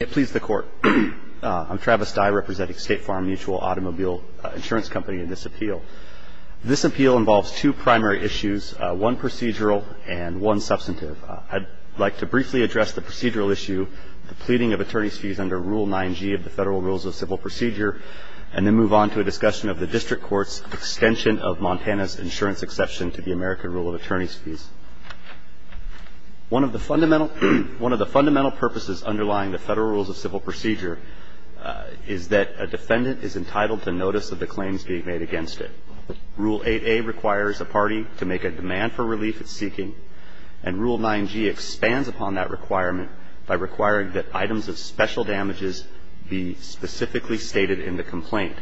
It please the court. I'm Travis Dye representing State Farm Mutual Automobile Insurance Company in this appeal. This appeal involves two primary issues, one procedural and one substantive. I'd like to briefly address the procedural issue, the pleading of attorney's fees under Rule 9G of the Federal Rules of Civil Procedure, and then move on to a discussion of the District Court's extension of Montana's insurance exception to the American Rule of Attorney's Fees. One of the fundamental purposes underlying the Federal Rules of Civil Procedure is that a defendant is entitled to notice of the claims being made against it. Rule 8A requires a party to make a demand for relief it's seeking, and Rule 9G expands upon that requirement by requiring that items of special damages be specifically stated in the complaint.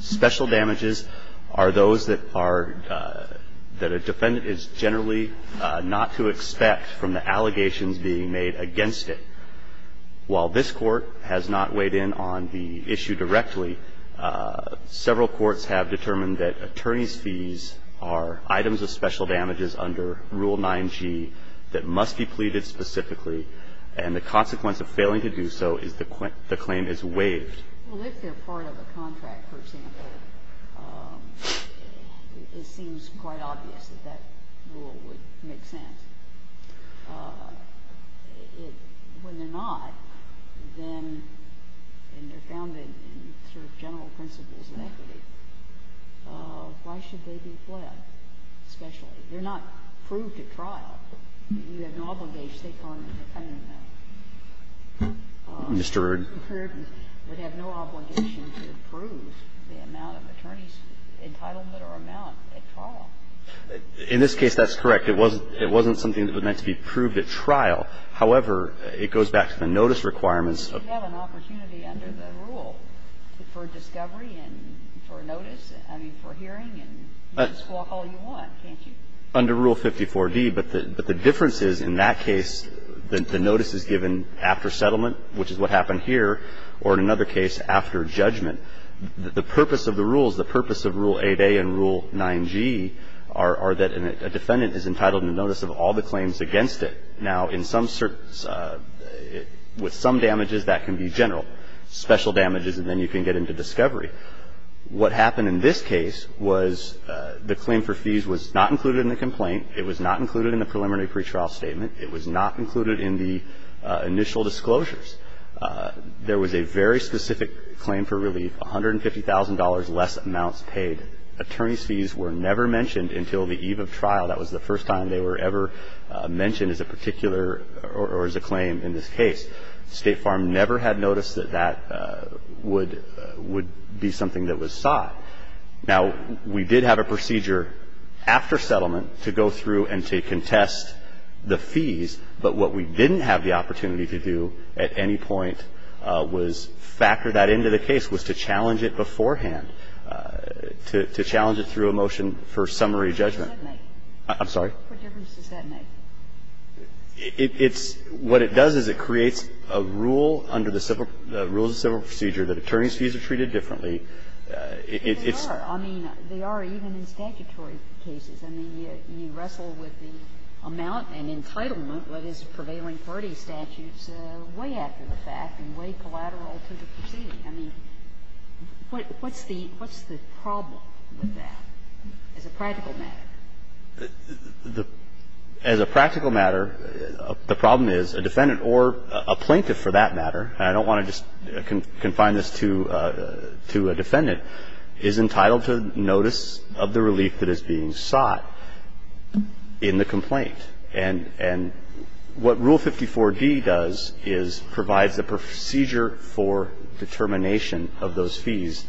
Special damages are those that are – that a defendant is generally not to expect from the allegations being made against it. While this Court has not weighed in on the issue directly, several courts have determined that attorney's fees are items of special damages under Rule 9G that must be pleaded specifically, and the consequence of failing to do so is the claim is waived. Well, if they're part of a contract, for example, it seems quite obvious that that rule would make sense. It – when they're not, then – and they're founded in sort of general principles of equity, why should they be pled, especially? They're not proved at trial. You have an obligation to take part in it. I don't know. Mr. Erdman? Mr. Erdman would have no obligation to prove the amount of attorney's entitlement or amount at trial. In this case, that's correct. It wasn't – it wasn't something that would have to be proved at trial. However, it goes back to the notice requirements of – You have an opportunity under the rule for discovery and for notice, I mean, for hearing, and you can squawk all you want, can't you? Under Rule 54d. But the difference is, in that case, the notice is given after settlement, which is what happened here, or in another case, after judgment. The purpose of the rules, the purpose of Rule 8a and Rule 9g, are that a defendant is entitled to notice of all the claims against it. Now, in some – with some damages, that can be general, special damages, and then you can get into discovery. What happened in this case was the claim for fees was not included in the complaint. It was not included in the preliminary pretrial statement. It was not included in the initial disclosures. There was a very specific claim for relief, $150,000 less amounts paid. Attorney's fees were never mentioned until the eve of trial. That was the first time they were ever mentioned as a particular – or as a claim in this case. State Farm never had noticed that that would – would be something that was sought. Now, we did have a procedure after settlement to go through and to contest the fees, but what we didn't have the opportunity to do at any point was factor that into the case, was to challenge it beforehand, to challenge it through a motion for summary judgment. I'm sorry? What difference does that make? It's – what it does is it creates a rule under the civil – the rules of civil procedure that attorneys' fees are treated differently. It's – But they are. I mean, they are even in statutory cases. I mean, you wrestle with the amount and entitlement that is prevailing for any statutes way after the fact and way collateral to the proceeding. I mean, what's the – what's the problem with that as a practical matter? The – as a practical matter, the problem is a defendant or a plaintiff for that matter – and I don't want to just confine this to a defendant – is entitled to notice of the relief that is being sought in the complaint. And what Rule 54d does is provides a procedure for determination of those fees,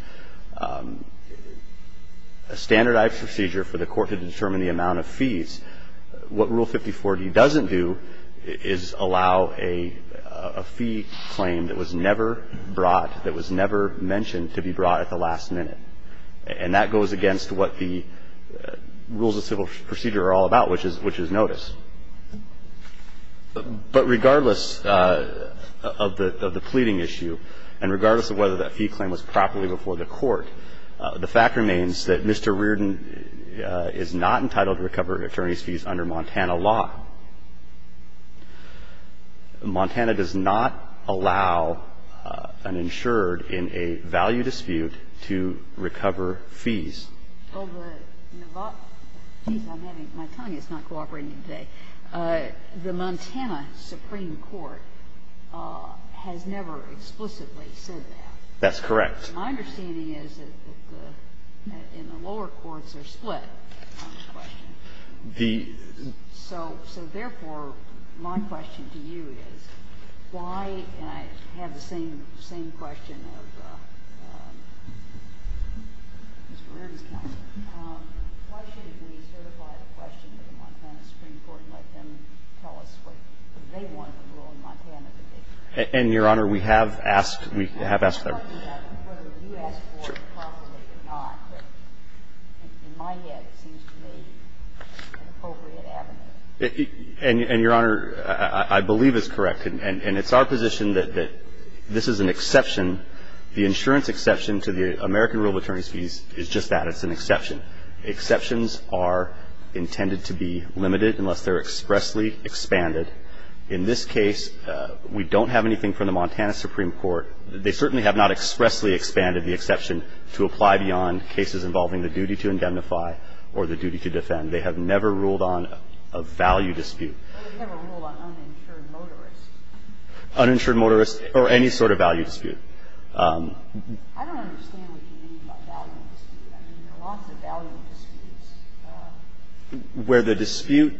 a standardized procedure for the court to determine the amount of fees. What Rule 54d doesn't do is allow a fee claim that was never brought, that was never mentioned to be brought at the last minute. And that goes against what the rules of civil procedure are all about, which is notice. But regardless of the pleading issue and regardless of whether that fee claim was properly The fact remains that Mr. Reardon is not entitled to recover an attorney's fees under Montana law. Montana does not allow an insured in a value dispute to recover fees. Well, the – geez, I'm having – my tongue is not cooperating today. The Montana Supreme Court has never explicitly said that. My understanding is that the – in the lower courts, they're split on this question. The – So therefore, my question to you is, why – and I have the same question of Mr. Reardon's counsel. Why shouldn't we certify the question to the Montana Supreme Court and let them tell us what they want the rule in Montana to be? And, Your Honor, we have asked – we have asked them. We have asked them whether you asked for it possibly or not. But in my head, it seems to me an appropriate avenue. And, Your Honor, I believe it's correct. And it's our position that this is an exception. The insurance exception to the American rule of attorney's fees is just that. It's an exception. Exceptions are intended to be limited unless they're expressly expanded. In this case, we don't have anything from the Montana Supreme Court. They certainly have not expressly expanded the exception to apply beyond cases involving the duty to indemnify or the duty to defend. They have never ruled on a value dispute. Well, they never ruled on uninsured motorists. Uninsured motorists or any sort of value dispute. I don't understand what you mean by value dispute. I mean, there are lots of value disputes. Where the dispute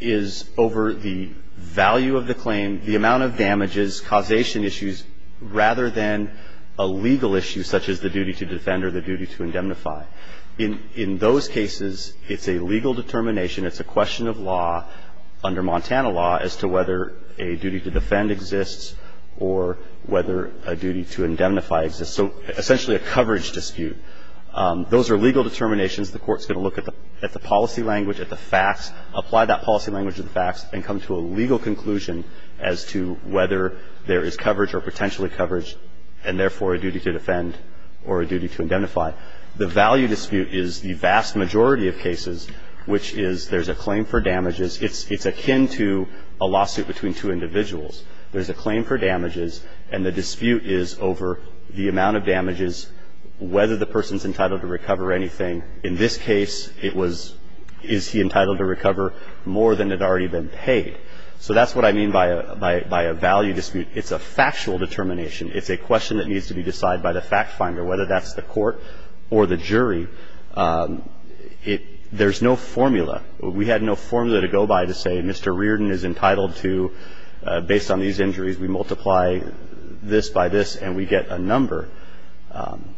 is over the value of the claim, the amount of damages, causation issues, rather than a legal issue such as the duty to defend or the duty to indemnify. In those cases, it's a legal determination. It's a question of law under Montana law as to whether a duty to defend exists or whether a duty to indemnify exists. So essentially a coverage dispute. Those are legal determinations. The Court's going to look at the policy language, at the facts, apply that policy as to whether there is coverage or potentially coverage, and therefore a duty to defend or a duty to indemnify. The value dispute is the vast majority of cases, which is there's a claim for damages. It's akin to a lawsuit between two individuals. There's a claim for damages, and the dispute is over the amount of damages, whether the person's entitled to recover anything. In this case, it was is he entitled to recover more than had already been paid. So that's what I mean by a value dispute. It's a factual determination. It's a question that needs to be decided by the fact finder, whether that's the court or the jury. There's no formula. We had no formula to go by to say Mr. Reardon is entitled to, based on these injuries, we multiply this by this and we get a number.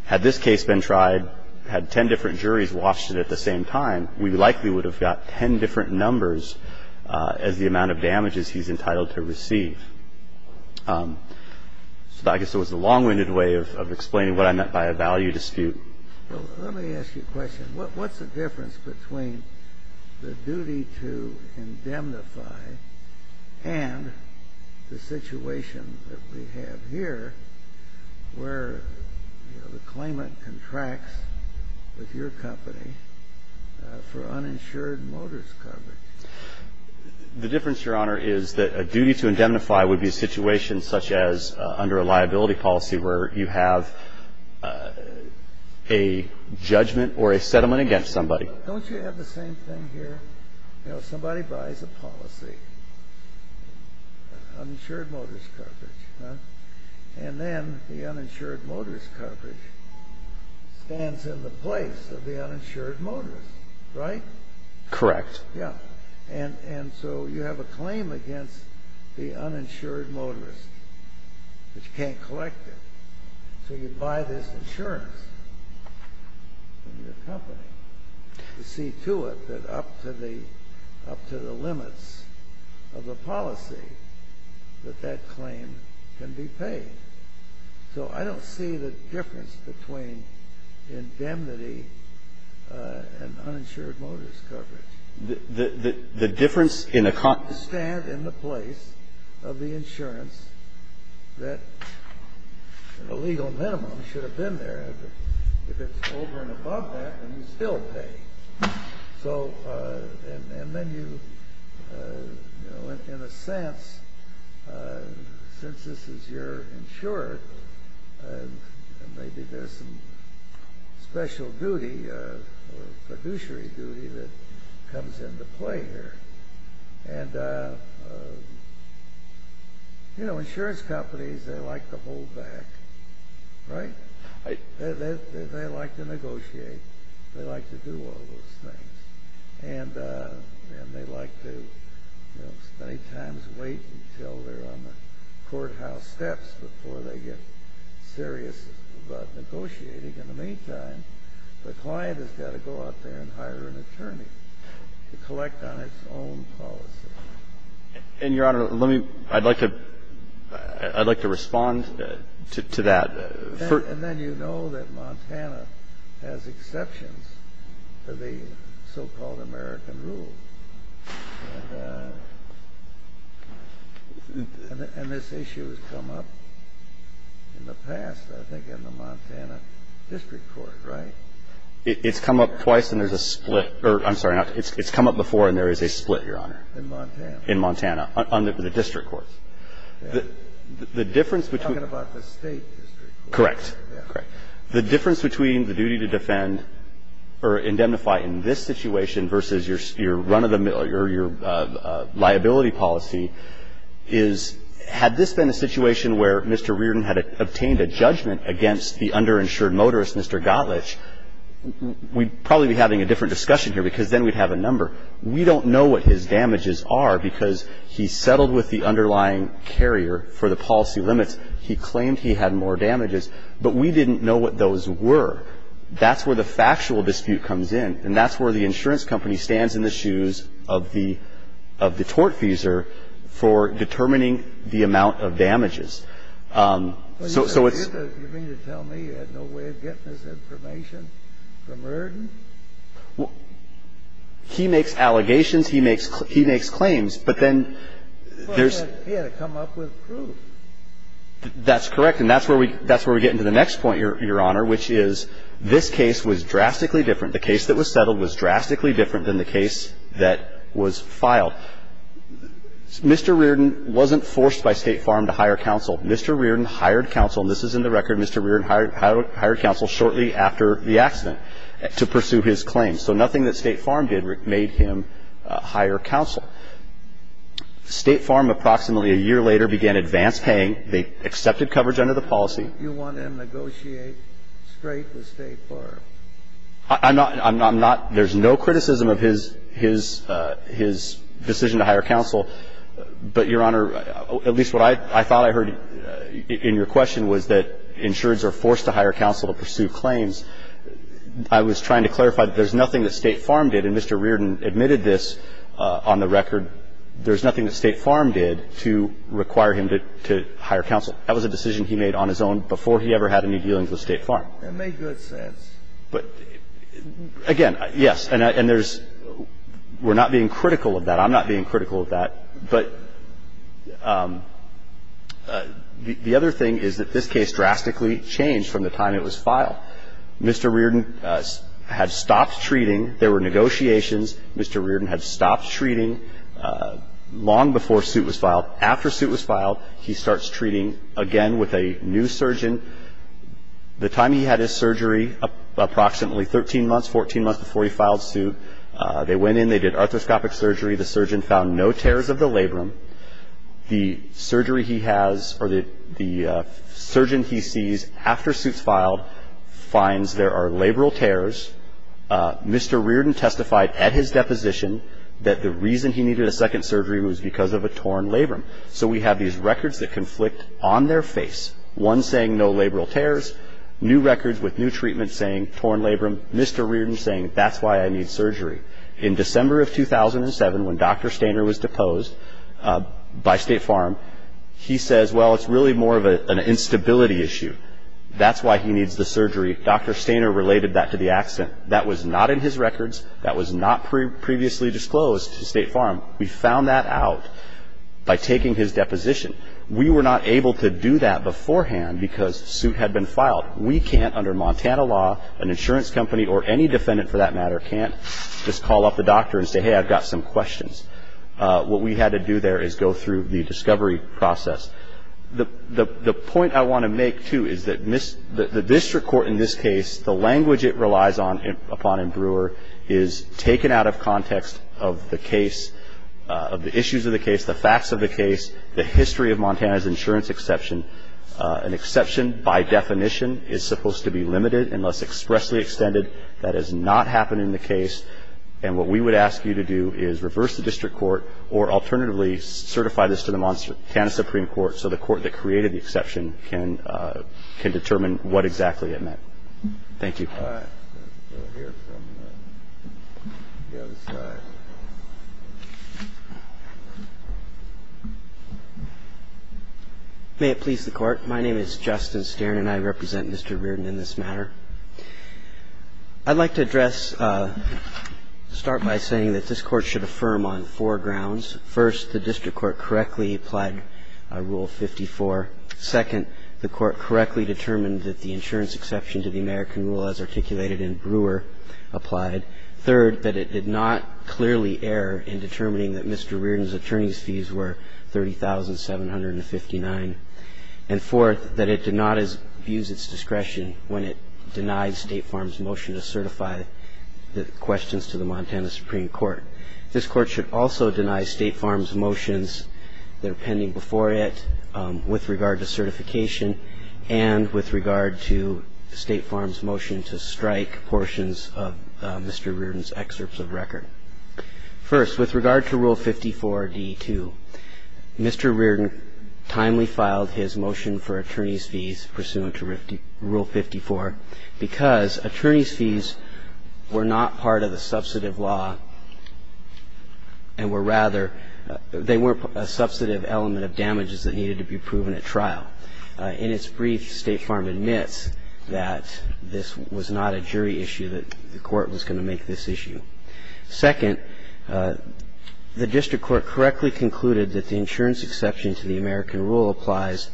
Had this case been tried, had 10 different juries watched it at the same time, we likely would have got 10 different numbers as the amount of damages he's entitled to receive. So I guess it was a long-winded way of explaining what I meant by a value dispute. Let me ask you a question. What's the difference between the duty to indemnify and the situation that we have here where the claimant contracts with your company for uninsured motorist coverage? The difference, Your Honor, is that a duty to indemnify would be a situation such as under a liability policy where you have a judgment or a settlement against somebody. Don't you have the same thing here? Somebody buys a policy, uninsured motorist coverage, and then the uninsured motorist coverage stands in the place of the uninsured motorist, right? Correct. Yeah. And so you have a claim against the uninsured motorist, but you can't collect it. So you buy this insurance from your company to see to it that up to the limits of the policy that that claim can be paid. So I don't see the difference between indemnity and uninsured motorist coverage. The difference in a company... ...stand in the place of the insurance that the legal minimum should have been there. If it's over and above that, then you still pay. So, and then you, you know, in a sense, since this is your insurer, maybe there's some special duty or fiduciary duty that comes into play here. And, you know, insurance companies, they like to hold back, right? They like to negotiate. They like to do all those things. And they like to, you know, many times wait until they're on the courthouse steps before they get serious about negotiating. In the meantime, the client has got to go out there and hire an attorney to collect on its own policy. And, Your Honor, let me, I'd like to, I'd like to respond to that. And then you know that Montana has exceptions to the so-called American rule. And this issue has come up in the past, I think, in the Montana district court, right? It's come up twice and there's a split, or I'm sorry, it's come up before and there is a split, Your Honor. In Montana. In Montana, on the district courts. The difference between. You're talking about the state district court. Correct. The difference between the duty to defend or indemnify in this situation versus your run of the mill or your liability policy is, had this been a situation where Mr. Reardon had obtained a judgment against the underinsured motorist, Mr. Gottlich, we'd probably be having a different discussion here because then we'd have a number. We don't know what his damages are because he settled with the underlying carrier for the policy limits. He claimed he had more damages. But we didn't know what those were. That's where the factual dispute comes in. And that's where the insurance company stands in the shoes of the tortfeasor for determining the amount of damages. So it's. You mean to tell me you had no way of getting this information from Reardon? He makes allegations. He makes claims. But then there's. He had to come up with proof. That's correct. And that's where we get into the next point, Your Honor, which is this case was drastically different. The case that was settled was drastically different than the case that was filed. Mr. Reardon wasn't forced by State Farm to hire counsel. Mr. Reardon hired counsel. And this is in the record. Mr. Reardon hired counsel shortly after the accident. He hired counsel shortly after the accident to pursue his claims. So nothing that State Farm did made him hire counsel. State Farm approximately a year later began advance paying. They accepted coverage under the policy. You want him to negotiate straight with State Farm? I'm not. I'm not. There's no criticism of his decision to hire counsel. But, Your Honor, at least what I thought I heard in your question was that insureds are forced to hire counsel to pursue claims. I was trying to clarify that there's nothing that State Farm did. And Mr. Reardon admitted this on the record. There's nothing that State Farm did to require him to hire counsel. That was a decision he made on his own before he ever had any dealings with State Farm. That makes good sense. But, again, yes. And there's. We're not being critical of that. But I'm not being critical of that. But the other thing is that this case drastically changed from the time it was filed. Mr. Reardon had stopped treating. There were negotiations. Mr. Reardon had stopped treating long before suit was filed. After suit was filed, he starts treating again with a new surgeon. The time he had his surgery, approximately 13 months, 14 months before he filed suit, they went in. They did arthroscopic surgery. The surgeon found no tears of the labrum. The surgery he has or the surgeon he sees after suit's filed finds there are labral tears. Mr. Reardon testified at his deposition that the reason he needed a second surgery was because of a torn labrum. So we have these records that conflict on their face, one saying no labral tears, new records with new treatment saying torn labrum, Mr. Reardon saying that's why I need surgery. In December of 2007, when Dr. Stainer was deposed by State Farm, he says, well, it's really more of an instability issue. That's why he needs the surgery. Dr. Stainer related that to the accident. That was not in his records. That was not previously disclosed to State Farm. We found that out by taking his deposition. We were not able to do that beforehand because suit had been filed. We can't, under Montana law, an insurance company or any defendant, for that matter, can't just call up the doctor and say, hey, I've got some questions. What we had to do there is go through the discovery process. The point I want to make, too, is that the district court in this case, the language it relies upon in Brewer, is taken out of context of the case, of the issues of the case, the facts of the case, the history of Montana's insurance exception. An exception, by definition, is supposed to be limited unless expressly extended. That has not happened in the case. And what we would ask you to do is reverse the district court or alternatively certify this to the Montana Supreme Court so the court that created the exception can determine what exactly it meant. Thank you. All right. Let's go here from the other side. May it please the Court. My name is Justin Stern, and I represent Mr. Reardon in this matter. I'd like to address, start by saying that this Court should affirm on four grounds. First, the district court correctly applied Rule 54. Second, the court correctly determined that the insurance exception to the American Rule as articulated in Brewer applied. Third, that it did not clearly err in determining that Mr. Reardon's attorney's fees were $30,759. And fourth, that it did not abuse its discretion when it denied State Farm's motion to certify the questions to the Montana Supreme Court. This Court should also deny State Farm's motions that are pending before it with regard to certification and with regard to State Farm's motion to strike portions of Mr. Reardon's excerpts of record. First, with regard to Rule 54d-2, Mr. Reardon timely filed his motion for attorney's fees pursuant to Rule 54 because attorney's fees were not part of the substantive law and were rather they weren't a substantive element of damages that needed to be proven at trial. In its brief, State Farm admits that this was not a jury issue, that the Court was going to make this issue. Second, the district court correctly concluded that the insurance exception to the American Rule applies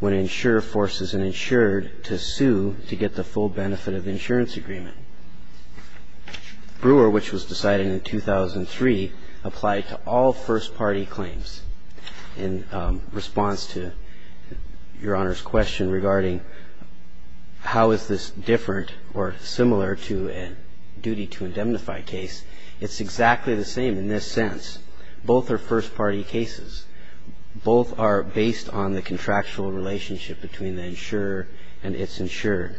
when an insurer forces an insured to sue to get the full benefit of the insurance agreement. Brewer, which was decided in 2003, applied to all first-party claims. In response to Your Honor's question regarding how is this different or similar to a duty to indemnify case, it's exactly the same in this sense. Both are first-party cases. Both are based on the contractual relationship between the insurer and its insured.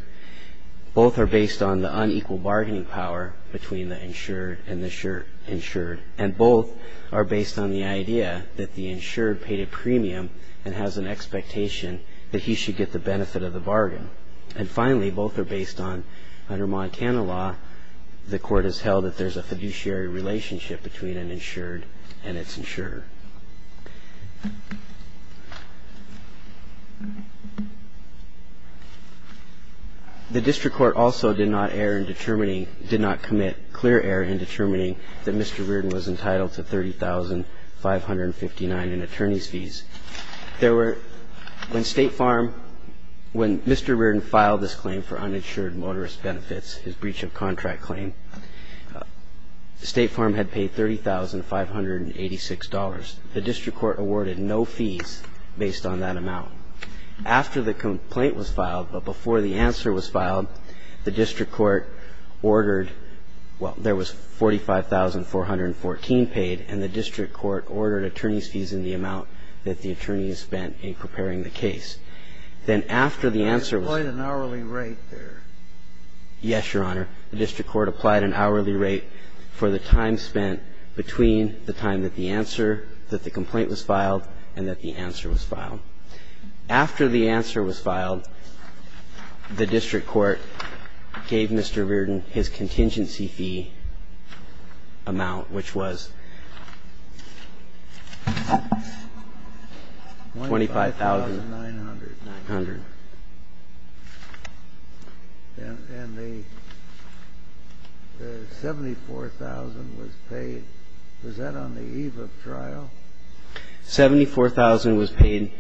Both are based on the unequal bargaining power between the insured and the insured. And both are based on the idea that the insured paid a premium and has an expectation that he should get the benefit of the bargain. And finally, both are based on, under Montana law, the court has held that there's a fiduciary relationship between an insured and its insurer. The district court also did not err in determining, did not commit clear error in determining that Mr. Reardon was entitled to $30,559 in attorney's fees. There were, when State Farm, when Mr. Reardon filed this claim for uninsured motorist benefits, his breach of contract claim, State Farm had paid $30,586. The district court awarded no fees based on that amount. After the complaint was filed, but before the answer was filed, the district court ordered well, there was $45,414 paid, and the district court ordered attorney's fees in the amount that the attorneys spent in preparing the case. Then after the answer was filed, the district court gave Mr. Reardon his contingency fee amount, which was $25,900. And the $74,000 was paid, was that on the eve of trial? $74,000 was paid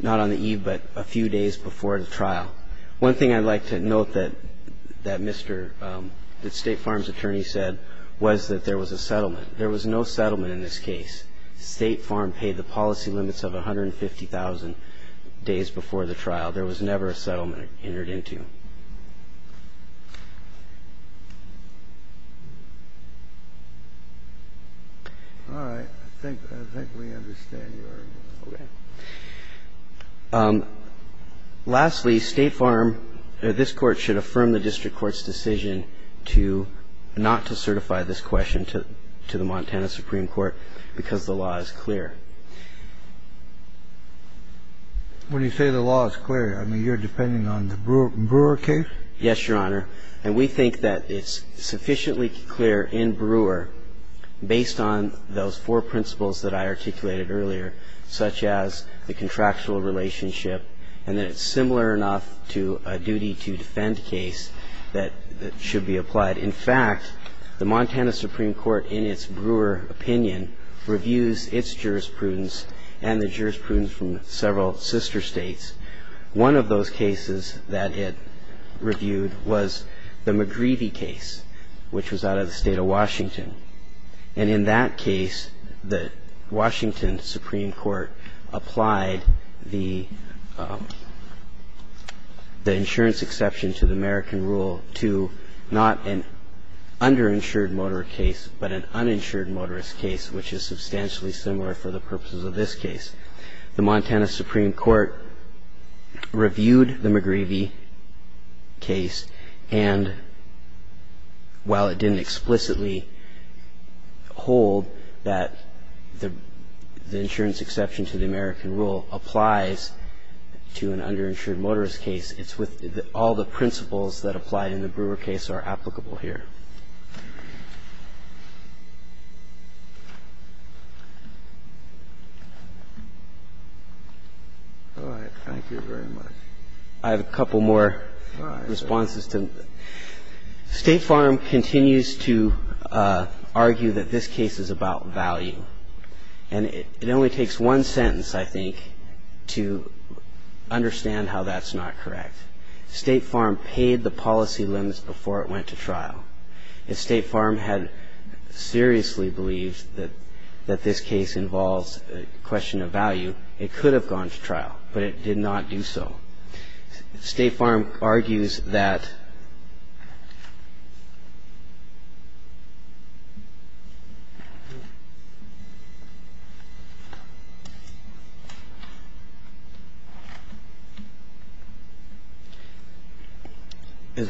not on the eve, but a few days before the trial. One thing I'd like to note that Mr. State Farm's attorney said was that there was a settlement. There was no settlement in this case. State Farm paid the policy limits of $150,000 days before the trial. There was never a settlement entered into. All right. I think we understand your argument. Okay. Lastly, State Farm or this Court should affirm the district court's decision to not to certify this question to the Montana Supreme Court because the law is clear. When you say the law is clear, I mean, you're depending on the Brewer case? Yes, Your Honor. And we think that it's sufficiently clear in Brewer based on those four principles that I articulated earlier, such as the contractual relationship, and that it's similar enough to a duty-to-defend case that should be applied. And in fact, the Montana Supreme Court, in its Brewer opinion, reviews its jurisprudence and the jurisprudence from several sister states. One of those cases that it reviewed was the McGreevy case, which was out of the State of Washington. And in that case, the Washington Supreme Court applied the insurance exception to the American rule to not an underinsured motorist case, but an uninsured motorist case, which is substantially similar for the purposes of this case. The Montana Supreme Court reviewed the McGreevy case, and while it didn't explicitly hold that the insurance exception to the American rule applies to an underinsured motorist case, it's with all the principles that apply in the Brewer case are applicable here. I have a couple more responses. State Farm continues to argue that this case is about value, and it only takes one sentence, I think, to understand how that's not correct. State Farm paid the policy limits before it went to trial. If State Farm had seriously believed that this case involves a question of value, it could have gone to trial, but it did not do so. State Farm argues that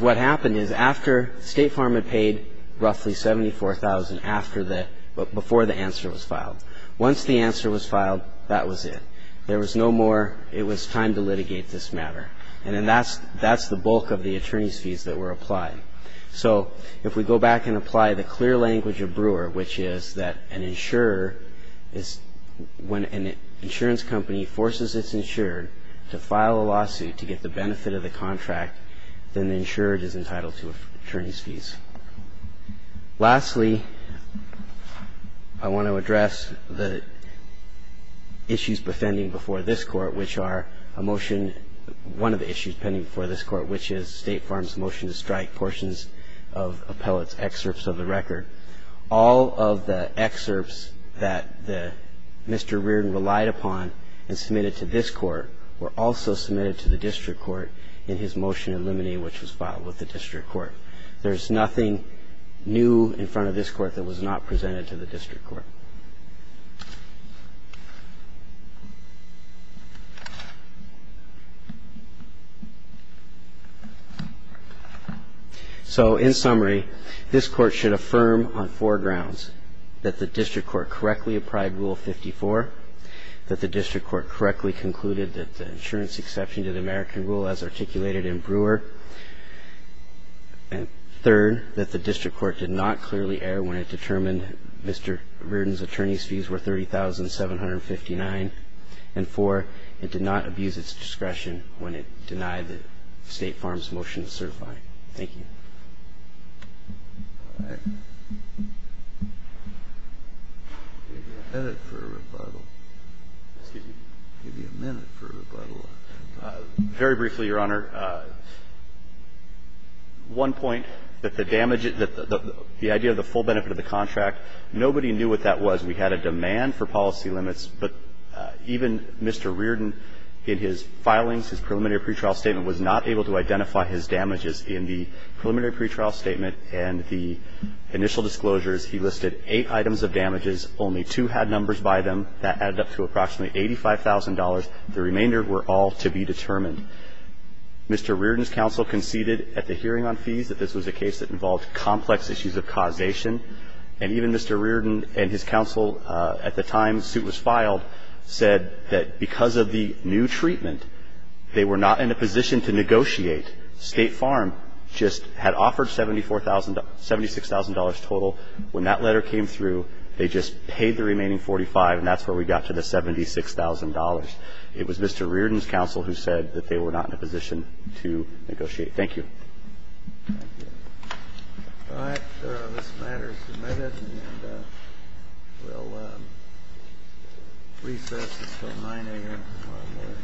what happened is after State Farm had paid roughly $74,000 before the answer was filed. Once the answer was filed, that was it. There was no more, it was time to litigate this matter. And then that's the bulk of the attorney's fees that were applied. So if we go back and apply the clear language of Brewer, which is that an insurer is when an insurance company forces its insured to file a lawsuit to get the benefit of the contract, then the insured is entitled to attorney's fees. Lastly, I want to address the issues befending before this Court, which are a motion, one of the issues pending before this Court, which is State Farm's motion to strike portions of Appellate's excerpts of the record. All of the excerpts that Mr. Reardon relied upon and submitted to this Court were also submitted to the district court in his motion eliminating which was filed with the district court. There's nothing new in front of this Court that was not presented to the district court. So in summary, this Court should affirm on four grounds, that the district court correctly applied Rule 54, that the district court correctly concluded that the insurance exception to the American Rule as articulated in Brewer, and third, that the district court did not clearly err when it determined that Mr. Reardon's attorney's fees were $30,759, and four, it did not abuse its discretion when it denied State Farm's motion to certify. Thank you. Very briefly, Your Honor. One point, that the damage, that the idea of the full benefit of the contract, nobody knew what that was. We had a demand for policy limits, but even Mr. Reardon in his filings, his preliminary pretrial statement, was not able to identify his damages in the preliminary pretrial statement and the initial disclosures. He listed eight items of damages. Only two had numbers by them. That added up to approximately $85,000. The remainder were all to be determined. Mr. Reardon's counsel conceded at the hearing on fees that this was a case that involved complex issues of causation. And even Mr. Reardon and his counsel, at the time the suit was filed, said that because of the new treatment, they were not in a position to negotiate. State Farm just had offered $76,000 total. When that letter came through, they just paid the remaining $45,000, and that's where we got to the $76,000. It was Mr. Reardon's counsel who said that they were not in a position to negotiate. Thank you. Thank you. All right. This matter is submitted, and we'll recess until 9 a.m. tomorrow morning.